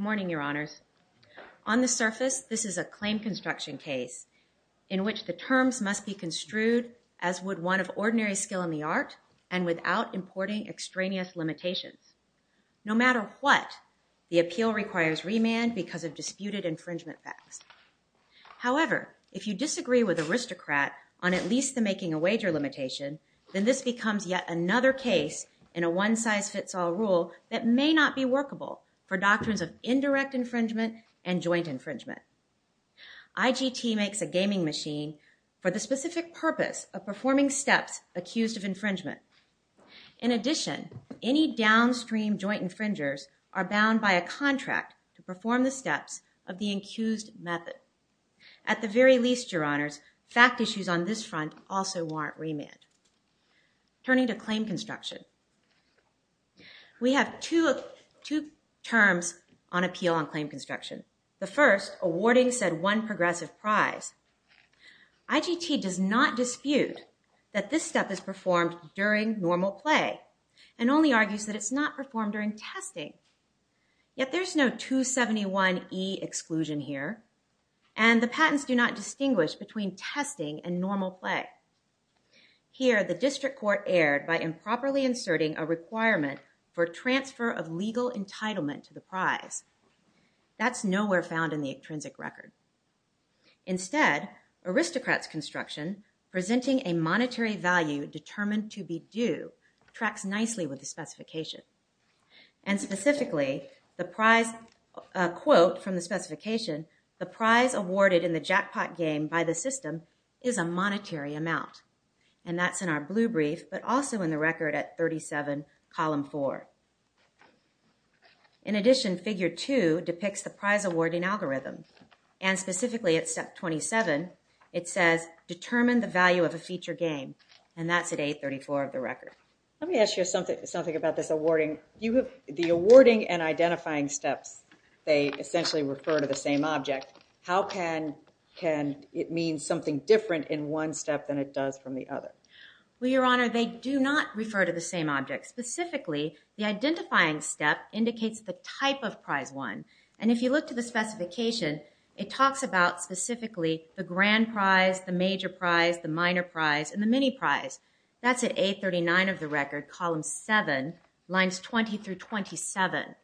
Good morning, Your Honors. On the surface, this is a claim construction case in which the terms must be construed as would one of ordinary skill in the art and without importing extraneous limitations. No matter what, the appeal requires remand because of disputed infringement facts. However, if you disagree with ARISTOCRAT on at least the making a wager limitation, then this becomes yet another case in a one-size-fits-all rule that may not be workable for doctrines of indirect infringement and joint infringement. IGT makes a gaming machine for the specific purpose of performing steps accused of infringement. In addition, any downstream joint infringers are bound by a contract to perform the steps of the accused method. At the very least, Your Honors, fact issues on this front also warrant remand. Turning to claim construction, we have two terms on appeal on claim construction. The first, awarding said one progressive prize. IGT does not dispute that this step is performed during normal play and only argues that it's not performed during testing, yet there's no 271E exclusion here and the patents do not distinguish between testing and normal play. Here the district court erred by improperly inserting a requirement for transfer of legal entitlement to the prize. That's nowhere found in the intrinsic record. Instead, aristocrats' construction, presenting a monetary value determined to be due, tracks nicely with the specification. And specifically, the prize quote from the specification, the prize awarded in the jackpot game by the system is a monetary amount. And that's in our blue brief, but also in the record at 37, column four. In addition, figure two depicts the prize awarding algorithm. And specifically at step 27, it says, determine the value of a feature game. And that's at 834 of the record. Let me ask you something about this awarding. The awarding and identifying steps, they essentially refer to the same object. How can it mean something different in one step than it does from the other? Well, Your Honor, they do not refer to the same object. Specifically, the identifying step indicates the type of prize won. And if you look to the specification, it talks about specifically the grand prize, the major prize, the minor prize, and the mini prize. That's at 839 of the record, column seven, lines 20 through 27.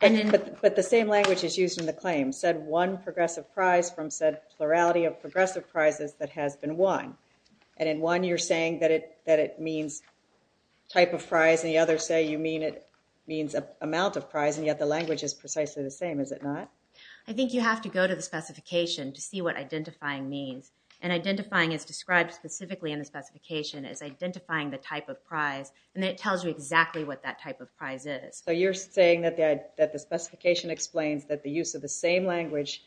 But the same language is used in the claim. Said one progressive prize from said plurality of progressive prizes that has been won. And in one, you're saying that it means type of prize. In the other, say you mean it means amount of prize. And yet, the language is precisely the same. Is it not? I think you have to go to the specification to see what identifying means. And identifying is described specifically in the specification as identifying the type of prize. And it tells you exactly what that type of prize is. So you're saying that the specification explains that the use of the same language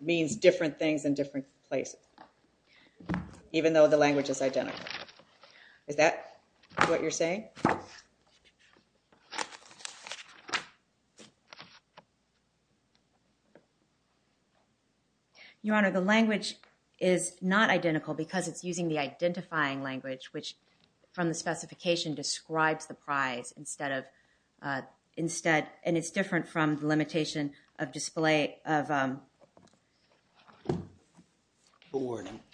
means different things in different places. Even though the language is identical. Is that what you're saying? Your Honor, the language is not identical because it's using the identifying language, which from the specification describes the prize instead of, instead, and it's different from the limitation of display of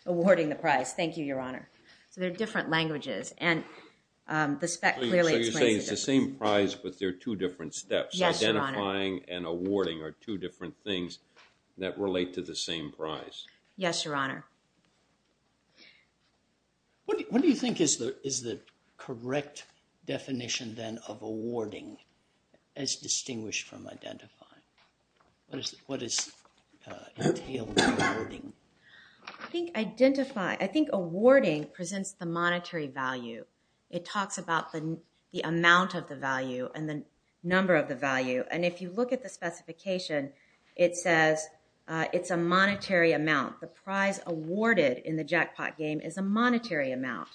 awarding the prize. Thank you, Your Honor. So they're different languages. And the spec clearly explains it. So you're saying it's the same prize, but there are two different steps. Yes, Your Honor. Identifying and awarding are two different things that relate to the same prize. Yes, Your Honor. What do you think is the correct definition then of awarding as distinguished from identifying? What does it entail in awarding? I think awarding presents the monetary value. It talks about the amount of the value and the number of the value. And if you look at the specification, it says it's a monetary amount. The prize awarded in the jackpot game is a monetary amount.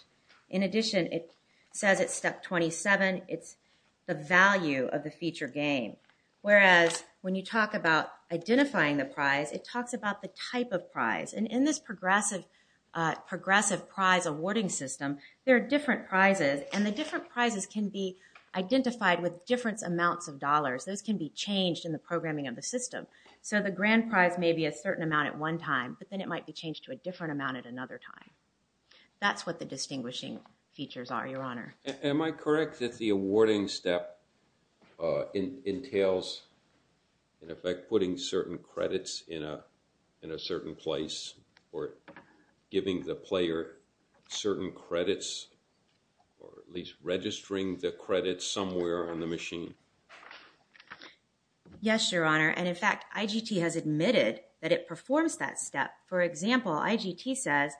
In addition, it says it's step 27. It's the value of the feature game. Whereas when you talk about identifying the prize, it talks about the type of prize. And in this progressive prize awarding system, there are different prizes. And the different prizes can be identified with different amounts of dollars. Those can be changed in the programming of the system. So the grand prize may be a certain amount at one time, but then it might be changed to a different amount at another time. That's what the distinguishing features are, Your Honor. Am I correct that the awarding step entails, in effect, putting certain credits in a certain place or giving the player certain credits or at least registering the credits somewhere on the machine? Yes, Your Honor. And, in fact, IGT has admitted that it performs that step. For example, IGT says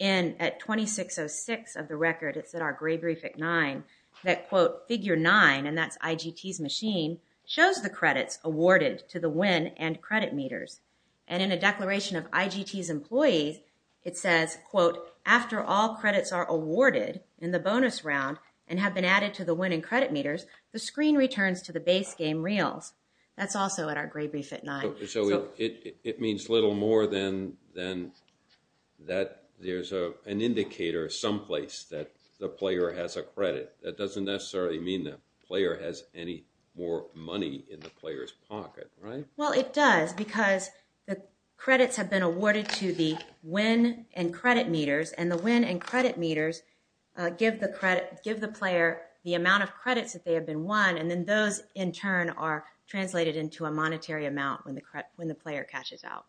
at 2606 of the record, it's in our gray brief at 9, that, quote, figure 9, and that's IGT's machine, shows the credits awarded to the win and credit meters. And in a declaration of IGT's employees, it says, quote, after all credits are awarded in the bonus round and have been added to the win and credit meters, the screen returns to the base game reels. That's also in our gray brief at 9. So it means little more than that there's an indicator someplace that the player has a credit. That doesn't necessarily mean the player has any more money in the player's pocket, right? Well, it does because the credits have been awarded to the win and credit meters, and the win and credit meters give the player the amount of credits that they have been won, and then those, in turn, are translated into a monetary amount when the player catches out.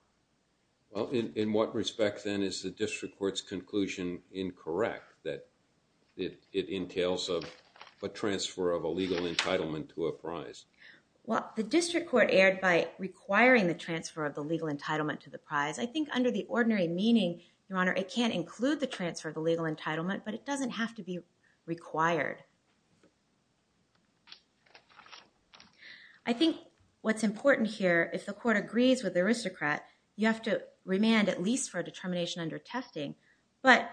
Well, in what respect, then, is the district court's conclusion incorrect, that it entails a transfer of a legal entitlement to a prize? Well, the district court erred by requiring the transfer of the legal entitlement to the prize. However, it can include the transfer of the legal entitlement, but it doesn't have to be required. I think what's important here, if the court agrees with the aristocrat, you have to remand at least for a determination under testing, but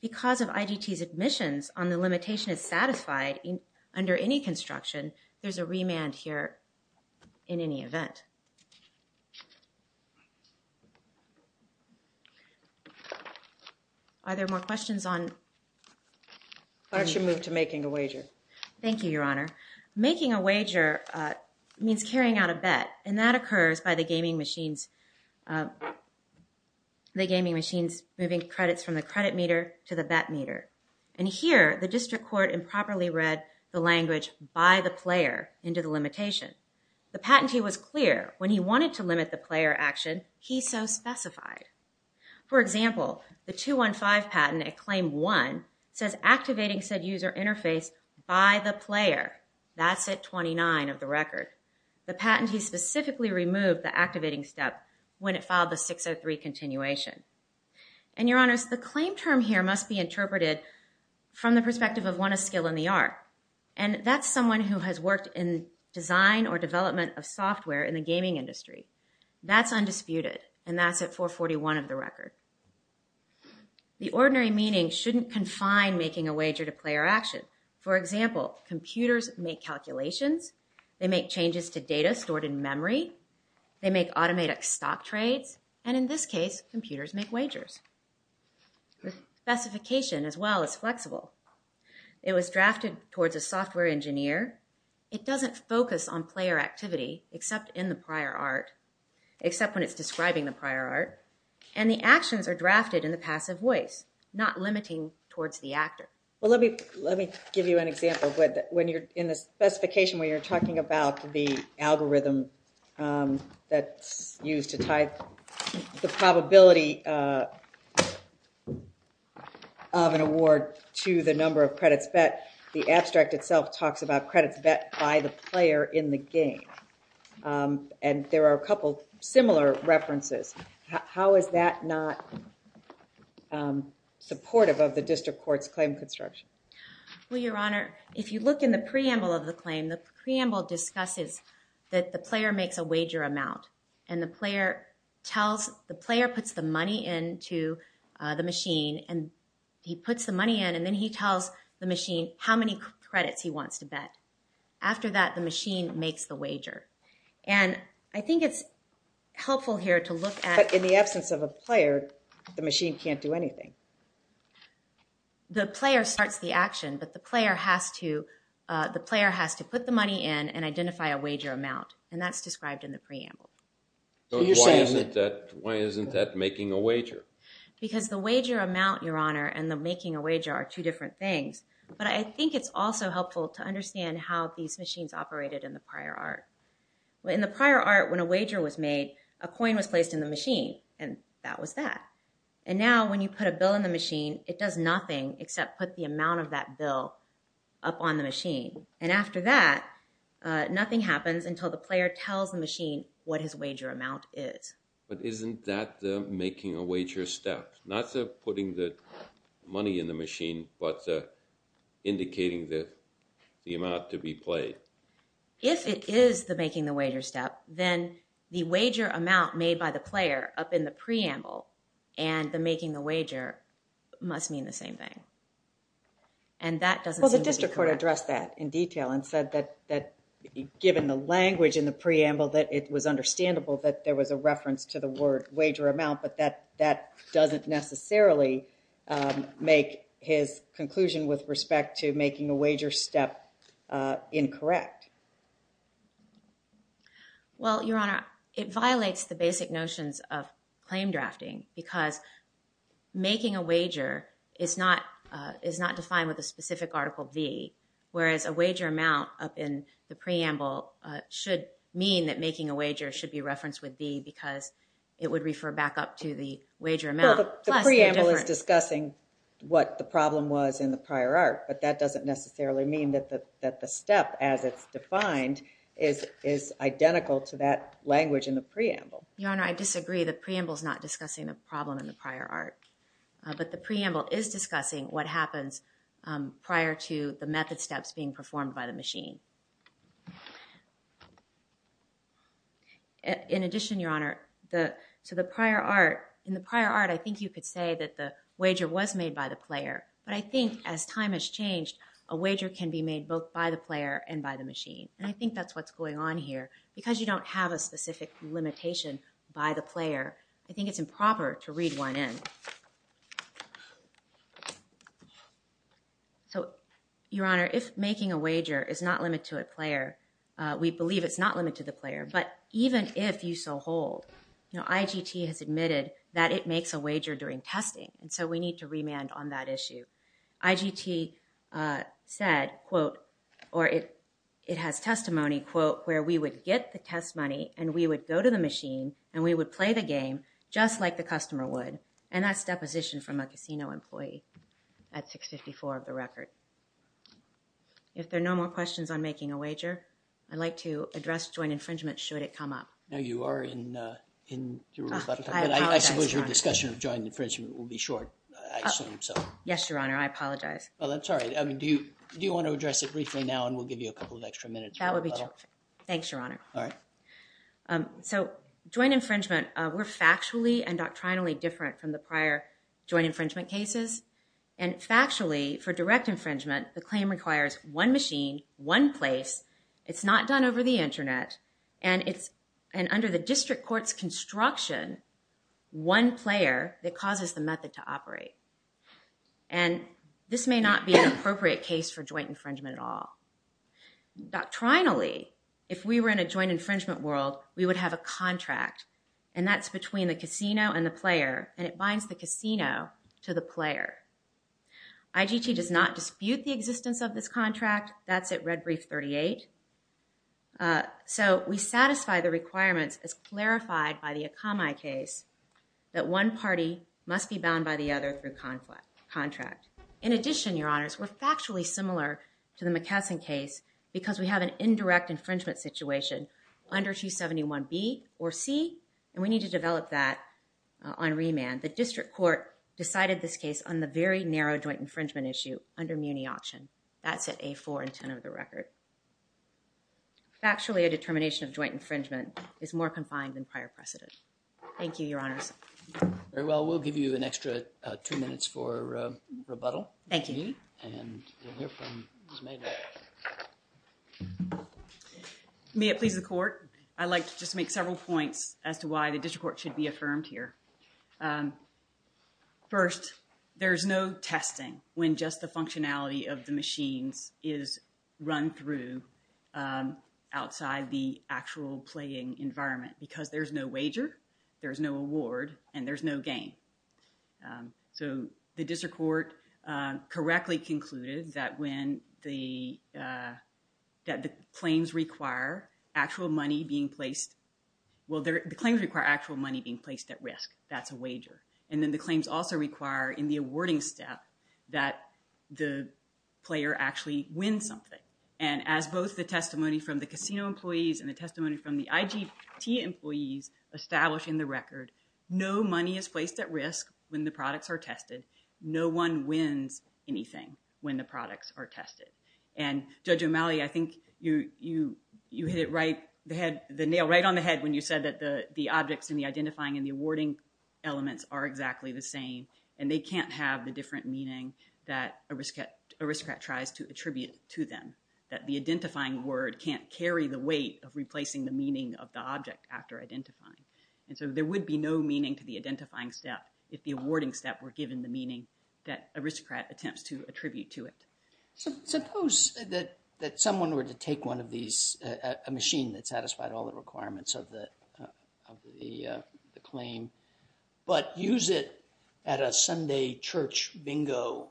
because of IGT's admissions on the limitation is satisfied under any construction, there's a remand here in any event. Are there more questions on? Why don't you move to making a wager? Thank you, Your Honor. Making a wager means carrying out a bet, and that occurs by the gaming machines moving credits from the credit meter to the bet meter. And here, the district court improperly read the language by the player into the limitation. The patentee was clear when he wanted to limit the player action, he so specified. For example, the 215 patent at claim one says activating said user interface by the player. That's at 29 of the record. The patentee specifically removed the activating step when it filed the 603 continuation. And, Your Honors, the claim term here must be interpreted from the perspective of one of skill in the art, and that's someone who has worked in design or development of software in the gaming industry. That's undisputed, and that's at 441 of the record. The ordinary meaning shouldn't confine making a wager to player action. For example, computers make calculations, they make changes to data stored in memory, they make automated stock trades, and in this case, computers make wagers. The specification, as well, is flexible. It was drafted towards a software engineer. It doesn't focus on player activity except in the prior art, except when it's describing the prior art, and the actions are drafted in the passive voice, not limiting towards the actor. Well, let me give you an example. In the specification where you're talking about the algorithm that's used to type the probability of an award to the number of credits bet, the abstract itself talks about credits bet by the player in the game. And there are a couple similar references. How is that not supportive of the district court's claim construction? Well, Your Honor, if you look in the preamble of the claim, the preamble discusses that the player makes a wager amount, and the player puts the money into the machine, and he puts the money in, and then he tells the machine how many credits he wants to bet. After that, the machine makes the wager. And I think it's helpful here to look at... But in the absence of a player, the machine can't do anything. The player starts the action, but the player has to put the money in and identify a wager amount, and that's described in the preamble. Why isn't that making a wager? Because the wager amount, Your Honor, and the making a wager are two different things. But I think it's also helpful to understand how these machines operated in the prior art. In the prior art, when a wager was made, a coin was placed in the machine, and that was that. And now when you put a bill in the machine, it does nothing except put the amount of that bill up on the machine. And after that, nothing happens until the player tells the machine what his wager amount is. But isn't that the making a wager step? Not putting the money in the machine, but indicating the amount to be played. If it is the making the wager step, then the wager amount made by the player up in the preamble and the making the wager must mean the same thing. And that doesn't seem to be correct. Well, the district court addressed that in detail and said that given the language in the preamble, that it was understandable that there was a reference to the word wager amount, but that doesn't necessarily make his conclusion with respect to making a wager step incorrect. Well, Your Honor, it violates the basic notions of claim drafting because making a wager is not defined with a specific Article V, whereas a wager amount up in the preamble should mean that making a wager should be referenced with V because it would refer back up to the wager amount. Well, the preamble is discussing what the problem was in the prior art, but that doesn't necessarily mean that the step as it's defined is identical to that language in the preamble. Your Honor, I disagree. The preamble is not discussing the problem in the prior art. But the preamble is discussing what happens prior to the method steps being performed by the machine. In addition, Your Honor, to the prior art, in the prior art I think you could say that the wager was made by the player, but I think as time has changed, a wager can be made both by the player and by the machine. And I think that's what's going on here. I think it's improper to read one in. So, Your Honor, if making a wager is not limited to a player, we believe it's not limited to the player, but even if you so hold, you know, IGT has admitted that it makes a wager during testing, and so we need to remand on that issue. IGT said, quote, or it has testimony, quote, where we would get the test money and we would go to the machine and we would play the game just like the customer would. And that's deposition from a casino employee. That's 654 of the record. If there are no more questions on making a wager, I'd like to address joint infringement should it come up. No, you are in, you were about to talk about it. I suppose your discussion of joint infringement will be short, I assume, so. Yes, Your Honor, I apologize. Well, that's all right. I mean, do you want to address it briefly now and we'll give you a couple of extra minutes? That would be terrific. Thanks, Your Honor. All right. So, joint infringement, we're factually and doctrinally different from the prior joint infringement cases. And factually, for direct infringement, the claim requires one machine, one place. It's not done over the internet. And it's, and under the district court's construction, one player that causes the method to operate. And this may not be an appropriate case for joint infringement at all. Doctrinally, if we were in a joint infringement world, we would have a contract. And that's between the casino and the player. And it binds the casino to the player. IGT does not dispute the existence of this contract. That's at red brief 38. So, we satisfy the requirements as clarified by the Akamai case that one party must be bound by the other through contract. In addition, Your Honors, we're factually similar to the McKesson case because we have an indirect infringement situation under 271B or C. And we need to develop that on remand. The district court decided this case on the very narrow joint infringement issue under Muni option. That's at A4 and 10 of the record. Factually, a determination of joint infringement is more confined than prior precedent. Thank you, Your Honors. Very well. We'll give you an extra two minutes for rebuttal. Thank you. And we'll hear from Ms. Maynard. May it please the court. I'd like to just make several points as to why the district court should be affirmed here. First, there's no testing when just the functionality of the machines is run through outside the actual playing environment because there's no wager, there's no award, and there's no gain. So the district court correctly concluded that when the claims require actual money being placed at risk, that's a wager. And then the claims also require in the awarding step that the player actually wins something. And as both the testimony from the casino employees and the testimony from the IGT employees establish in the record, no money is placed at risk when the products are tested. No one wins anything when the products are tested. And Judge O'Malley, I think you hit the nail right on the head when you said that the objects and the identifying and the awarding elements are exactly the same. And they can't have the different meaning that Aristocrat tries to attribute to them, that the identifying word can't carry the weight of replacing the meaning of the object after identifying. And so there would be no meaning to the identifying step if the awarding step were given the meaning that Aristocrat attempts to attribute to it. Suppose that someone were to take one of these, a machine that satisfied all the requirements of the claim, but use it at a Sunday church bingo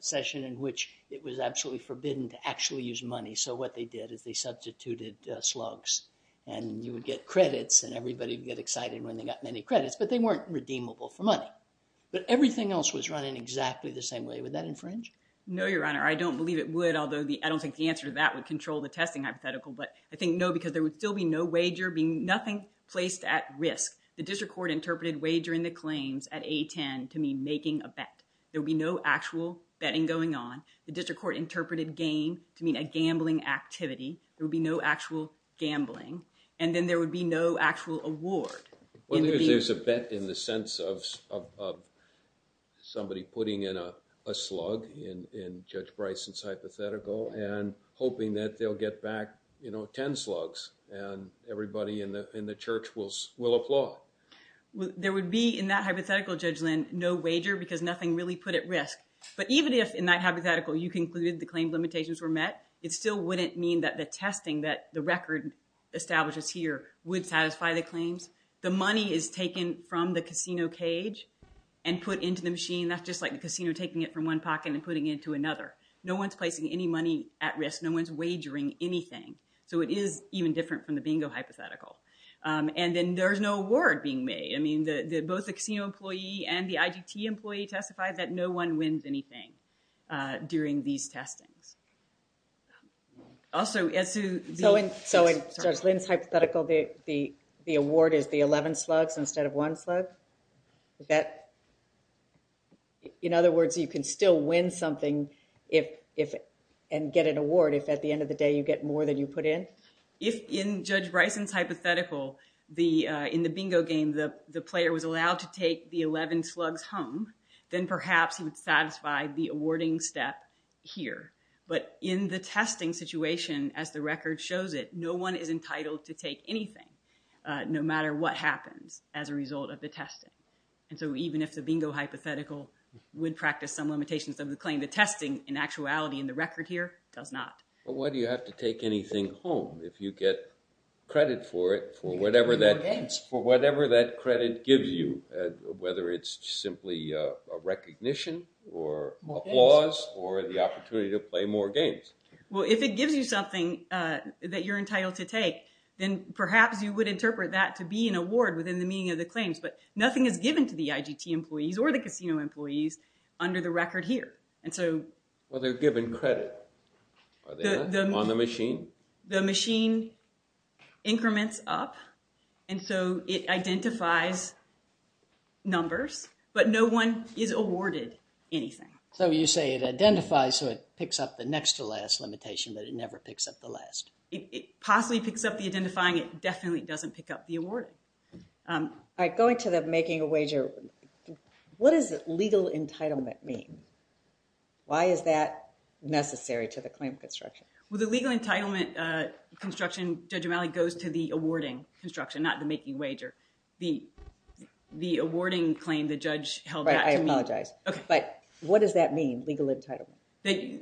session in which it was absolutely forbidden to actually use money. So what they did is they substituted slugs and you would get credits and everybody would get excited when they got many credits, but they weren't redeemable for money. But everything else was running exactly the same way. Would that infringe? No, Your Honor. I don't believe it would, although I don't think the answer to that would control the testing hypothetical. But I think no, because there would still be no wager, nothing placed at risk. The district court interpreted wagering the claims at A10 to mean making a bet. There would be no actual betting going on. The district court interpreted game to mean a gambling activity. There would be no actual gambling. And then there would be no actual award. Well, there's a bet in the sense of somebody putting in a slug in Judge Bryson's hypothetical and hoping that they'll get back, you know, 10 slugs and everybody in the church will applaud. There would be in that hypothetical, Judge Lynn, no wager because nothing really put at risk. But even if in that hypothetical you concluded the claim limitations were met, it still wouldn't mean that the testing that the record establishes here would satisfy the claims. The money is taken from the casino cage and put into the machine. That's just like the casino taking it from one pocket and putting it into another. No one's placing any money at risk. No one's wagering anything. So it is even different from the bingo hypothetical. And then there's no award being made. I mean, both the casino employee and the IGT employee testified that no one wins anything during these testings. Also, as to— So in Judge Lynn's hypothetical, the award is the 11 slugs instead of one slug? In other words, you can still win something and get an award if at the end of the day you get more than you put in? If in Judge Bryson's hypothetical, in the bingo game, the player was allowed to take the 11 slugs home, then perhaps he would satisfy the awarding step here. But in the testing situation, as the record shows it, no one is entitled to take anything, no matter what happens as a result of the testing. And so even if the bingo hypothetical would practice some limitations of the claim, the testing in actuality in the record here does not. But why do you have to take anything home if you get credit for it for whatever that credit gives you, whether it's simply a recognition or applause or the opportunity to play more games? Well, if it gives you something that you're entitled to take, then perhaps you would interpret that to be an award within the meaning of the claims. But nothing is given to the IGT employees or the casino employees under the record here. Well, they're given credit. Are they on the machine? The machine increments up, and so it identifies numbers. But no one is awarded anything. So you say it identifies, so it picks up the next to last limitation, but it never picks up the last. It possibly picks up the identifying. It definitely doesn't pick up the award. All right, going to the making a wager, what does legal entitlement mean? Why is that necessary to the claim construction? Well, the legal entitlement construction, Judge O'Malley, goes to the awarding construction, not the making wager. The awarding claim the judge held back to me. Right, I apologize. Okay. But what does that mean, legal entitlement?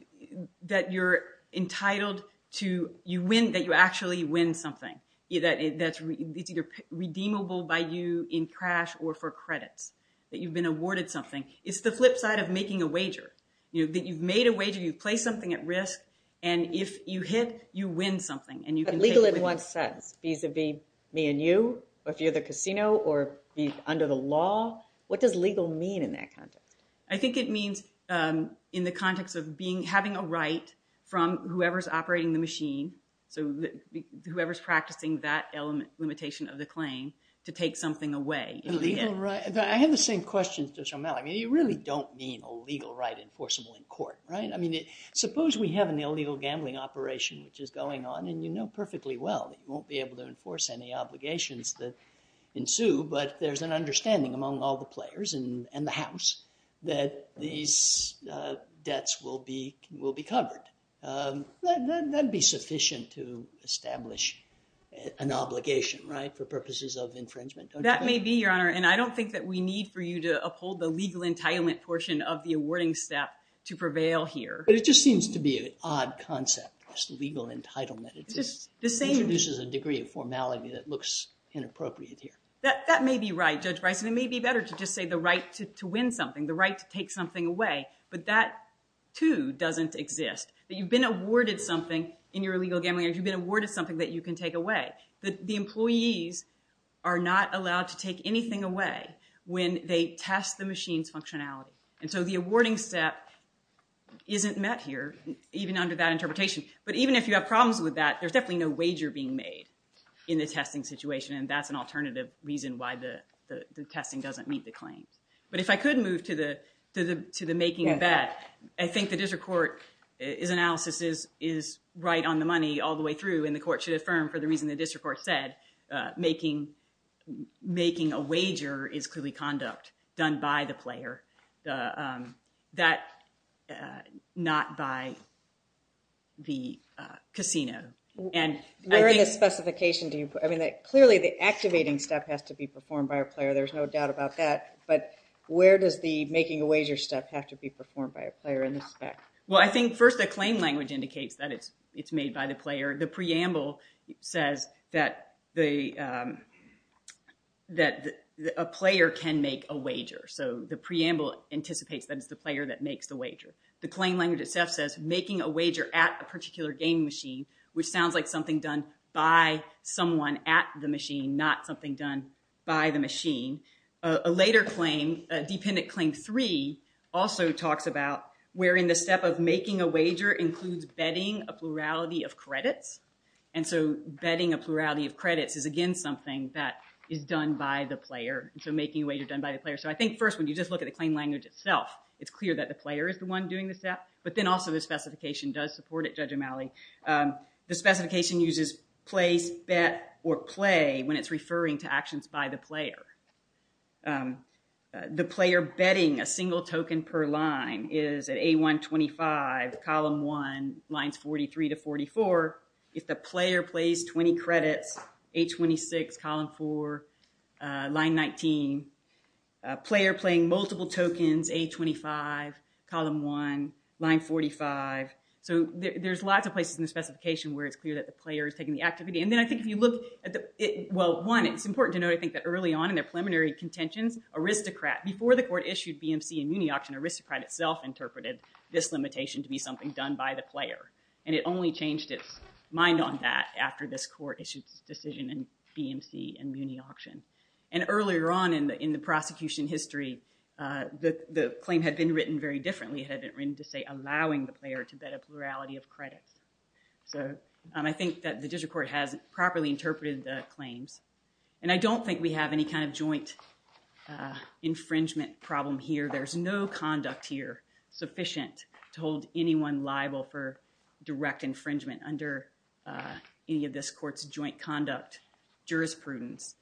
That you're entitled to – that you actually win something. It's either redeemable by you in cash or for credits, that you've been awarded something. It's the flip side of making a wager, that you've made a wager, you've placed something at risk, and if you hit, you win something. But legal, it once says, vis-a-vis me and you, or if you're the casino or under the law. What does legal mean in that context? I think it means in the context of having a right from whoever's operating the machine, so whoever's practicing that limitation of the claim, to take something away. I have the same question to Judge O'Malley. I mean, you really don't mean a legal right enforceable in court, right? I mean, suppose we have an illegal gambling operation which is going on, and you know perfectly well that you won't be able to enforce any obligations that ensue, but there's an understanding among all the players in the House that these debts will be covered. That'd be sufficient to establish an obligation, right, for purposes of infringement, don't you think? That may be, Your Honor, and I don't think that we need for you to uphold the legal entitlement portion of the awarding step to prevail here. But it just seems to be an odd concept, this legal entitlement. It just introduces a degree of formality that looks inappropriate here. That may be right, Judge Bryson. It may be better to just say the right to win something, the right to take something away, but that, too, doesn't exist. That you've been awarded something in your illegal gambling, or you've been awarded something that you can take away. The employees are not allowed to take anything away when they test the machine's functionality. And so the awarding step isn't met here, even under that interpretation. But even if you have problems with that, there's definitely no wager being made in the testing situation, and that's an alternative reason why the testing doesn't meet the claims. But if I could move to the making of that, I think the district court's analysis is right on the money all the way through, and the court should affirm for the reason the district court said, making a wager is clearly conduct done by the player, not by the casino. Where in the specification do you put that? Clearly, the activating step has to be performed by a player. There's no doubt about that. But where does the making a wager step have to be performed by a player in the spec? Well, I think, first, the claim language indicates that it's made by the player. The preamble says that a player can make a wager. So the preamble anticipates that it's the player that makes the wager. The claim language itself says, making a wager at a particular game machine, which sounds like something done by someone at the machine, not something done by the machine. A later claim, Dependent Claim 3, also talks about where in the step of making a wager includes betting a plurality of credits. And so betting a plurality of credits is, again, something that is done by the player. So I think, first, when you just look at the claim language itself, it's clear that the player is the one doing the step. But then also the specification does support it, Judge O'Malley. The specification uses place, bet, or play when it's referring to actions by the player. The player betting a single token per line is at A125, column 1, lines 43 to 44. If the player plays 20 credits, A26, column 4, line 19. Player playing multiple tokens, A25, column 1, line 45. So there's lots of places in the specification where it's clear that the player is taking the activity. And then I think if you look at the, well, one, it's important to note, I think, that early on in their preliminary contentions, Aristocrat, before the court issued BMC and Muni Auction, Aristocrat itself interpreted this limitation to be something done by the player. And it only changed its mind on that after this court issued its decision in BMC and Muni Auction. And earlier on in the prosecution history, the claim had been written very differently. It had been written to say allowing the player to bet a plurality of credits. So I think that the district court has properly interpreted the claims. And I don't think we have any kind of joint infringement problem here. There's no conduct here sufficient to hold anyone liable for direct infringement under any of this court's joint conduct jurisprudence.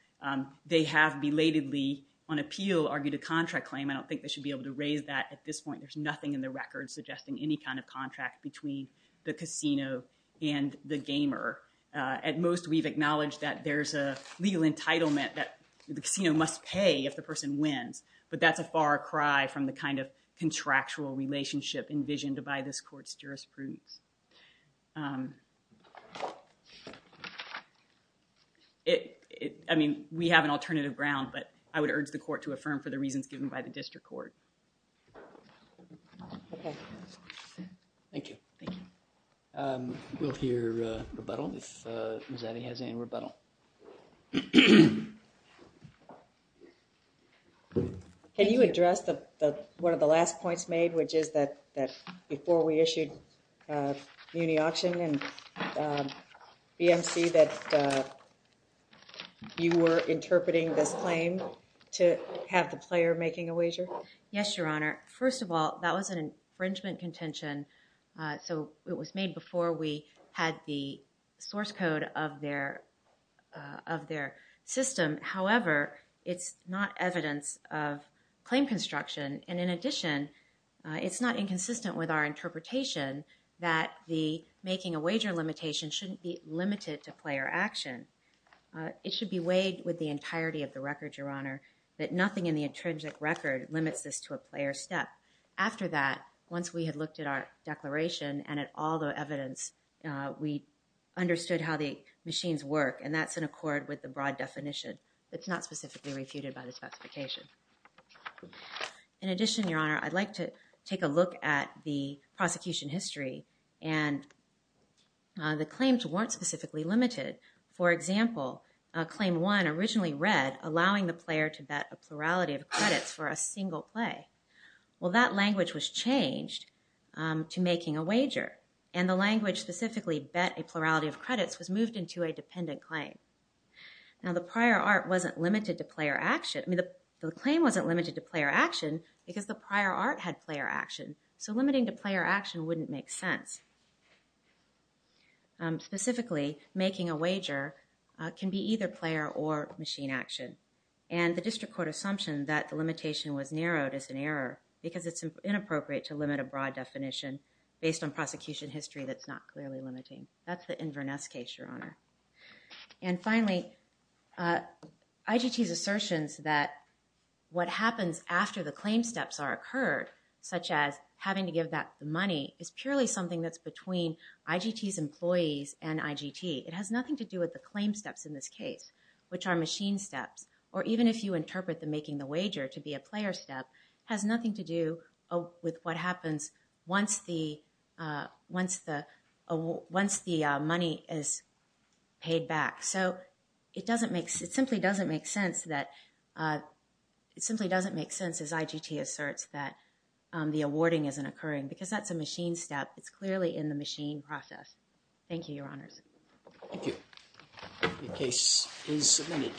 They have belatedly on appeal argued a contract claim. I don't think they should be able to raise that at this point. There's nothing in the record suggesting any kind of contract between the casino and the gamer. At most, we've acknowledged that there's a legal entitlement that the casino must pay if the person wins. But that's a far cry from the kind of contractual relationship envisioned by this court's jurisprudence. I mean, we have an alternative ground, but I would urge the court to affirm for the reasons given by the district court. Thank you. We'll hear rebuttal if Ms. Addy has any rebuttal. Can you address one of the last points made, which is that before we issued Muni Auction and BMC that you were interpreting this claim to have the player making a wager? Yes, Your Honor. First of all, that was an infringement contention, so it was made before we had the source code of their system. However, it's not evidence of claim construction. And in addition, it's not inconsistent with our interpretation that the making a wager limitation shouldn't be limited to player action. It should be weighed with the entirety of the record, Your Honor, that nothing in the intrinsic record limits this to a player step. After that, once we had looked at our declaration and at all the evidence, we understood how the machines work, and that's in accord with the broad definition. It's not specifically refuted by the specification. In addition, Your Honor, I'd like to take a look at the prosecution history, and the claims weren't specifically limited. For example, Claim 1 originally read, allowing the player to bet a plurality of credits for a single play. Well, that language was changed to making a wager, and the language specifically bet a plurality of credits was moved into a dependent claim. Now, the prior art wasn't limited to player action. I mean, the claim wasn't limited to player action because the prior art had player action, so limiting to player action wouldn't make sense. Specifically, making a wager can be either player or machine action, and the district court assumption that the limitation was narrowed is an error, because it's inappropriate to limit a broad definition based on prosecution history that's not clearly limiting. That's the Inverness case, Your Honor. And finally, IGT's assertions that what happens after the claim steps are occurred, such as having to give back the money, is purely something that's between IGT's employees and IGT. It has nothing to do with the claim steps in this case, which are machine steps, or even if you interpret the making the wager to be a player step, it has nothing to do with what happens once the money is paid back. So it simply doesn't make sense as IGT asserts that the awarding isn't occurring, because that's a machine step. It's clearly in the machine process. Thank you, Your Honors. Thank you. The case is submitted.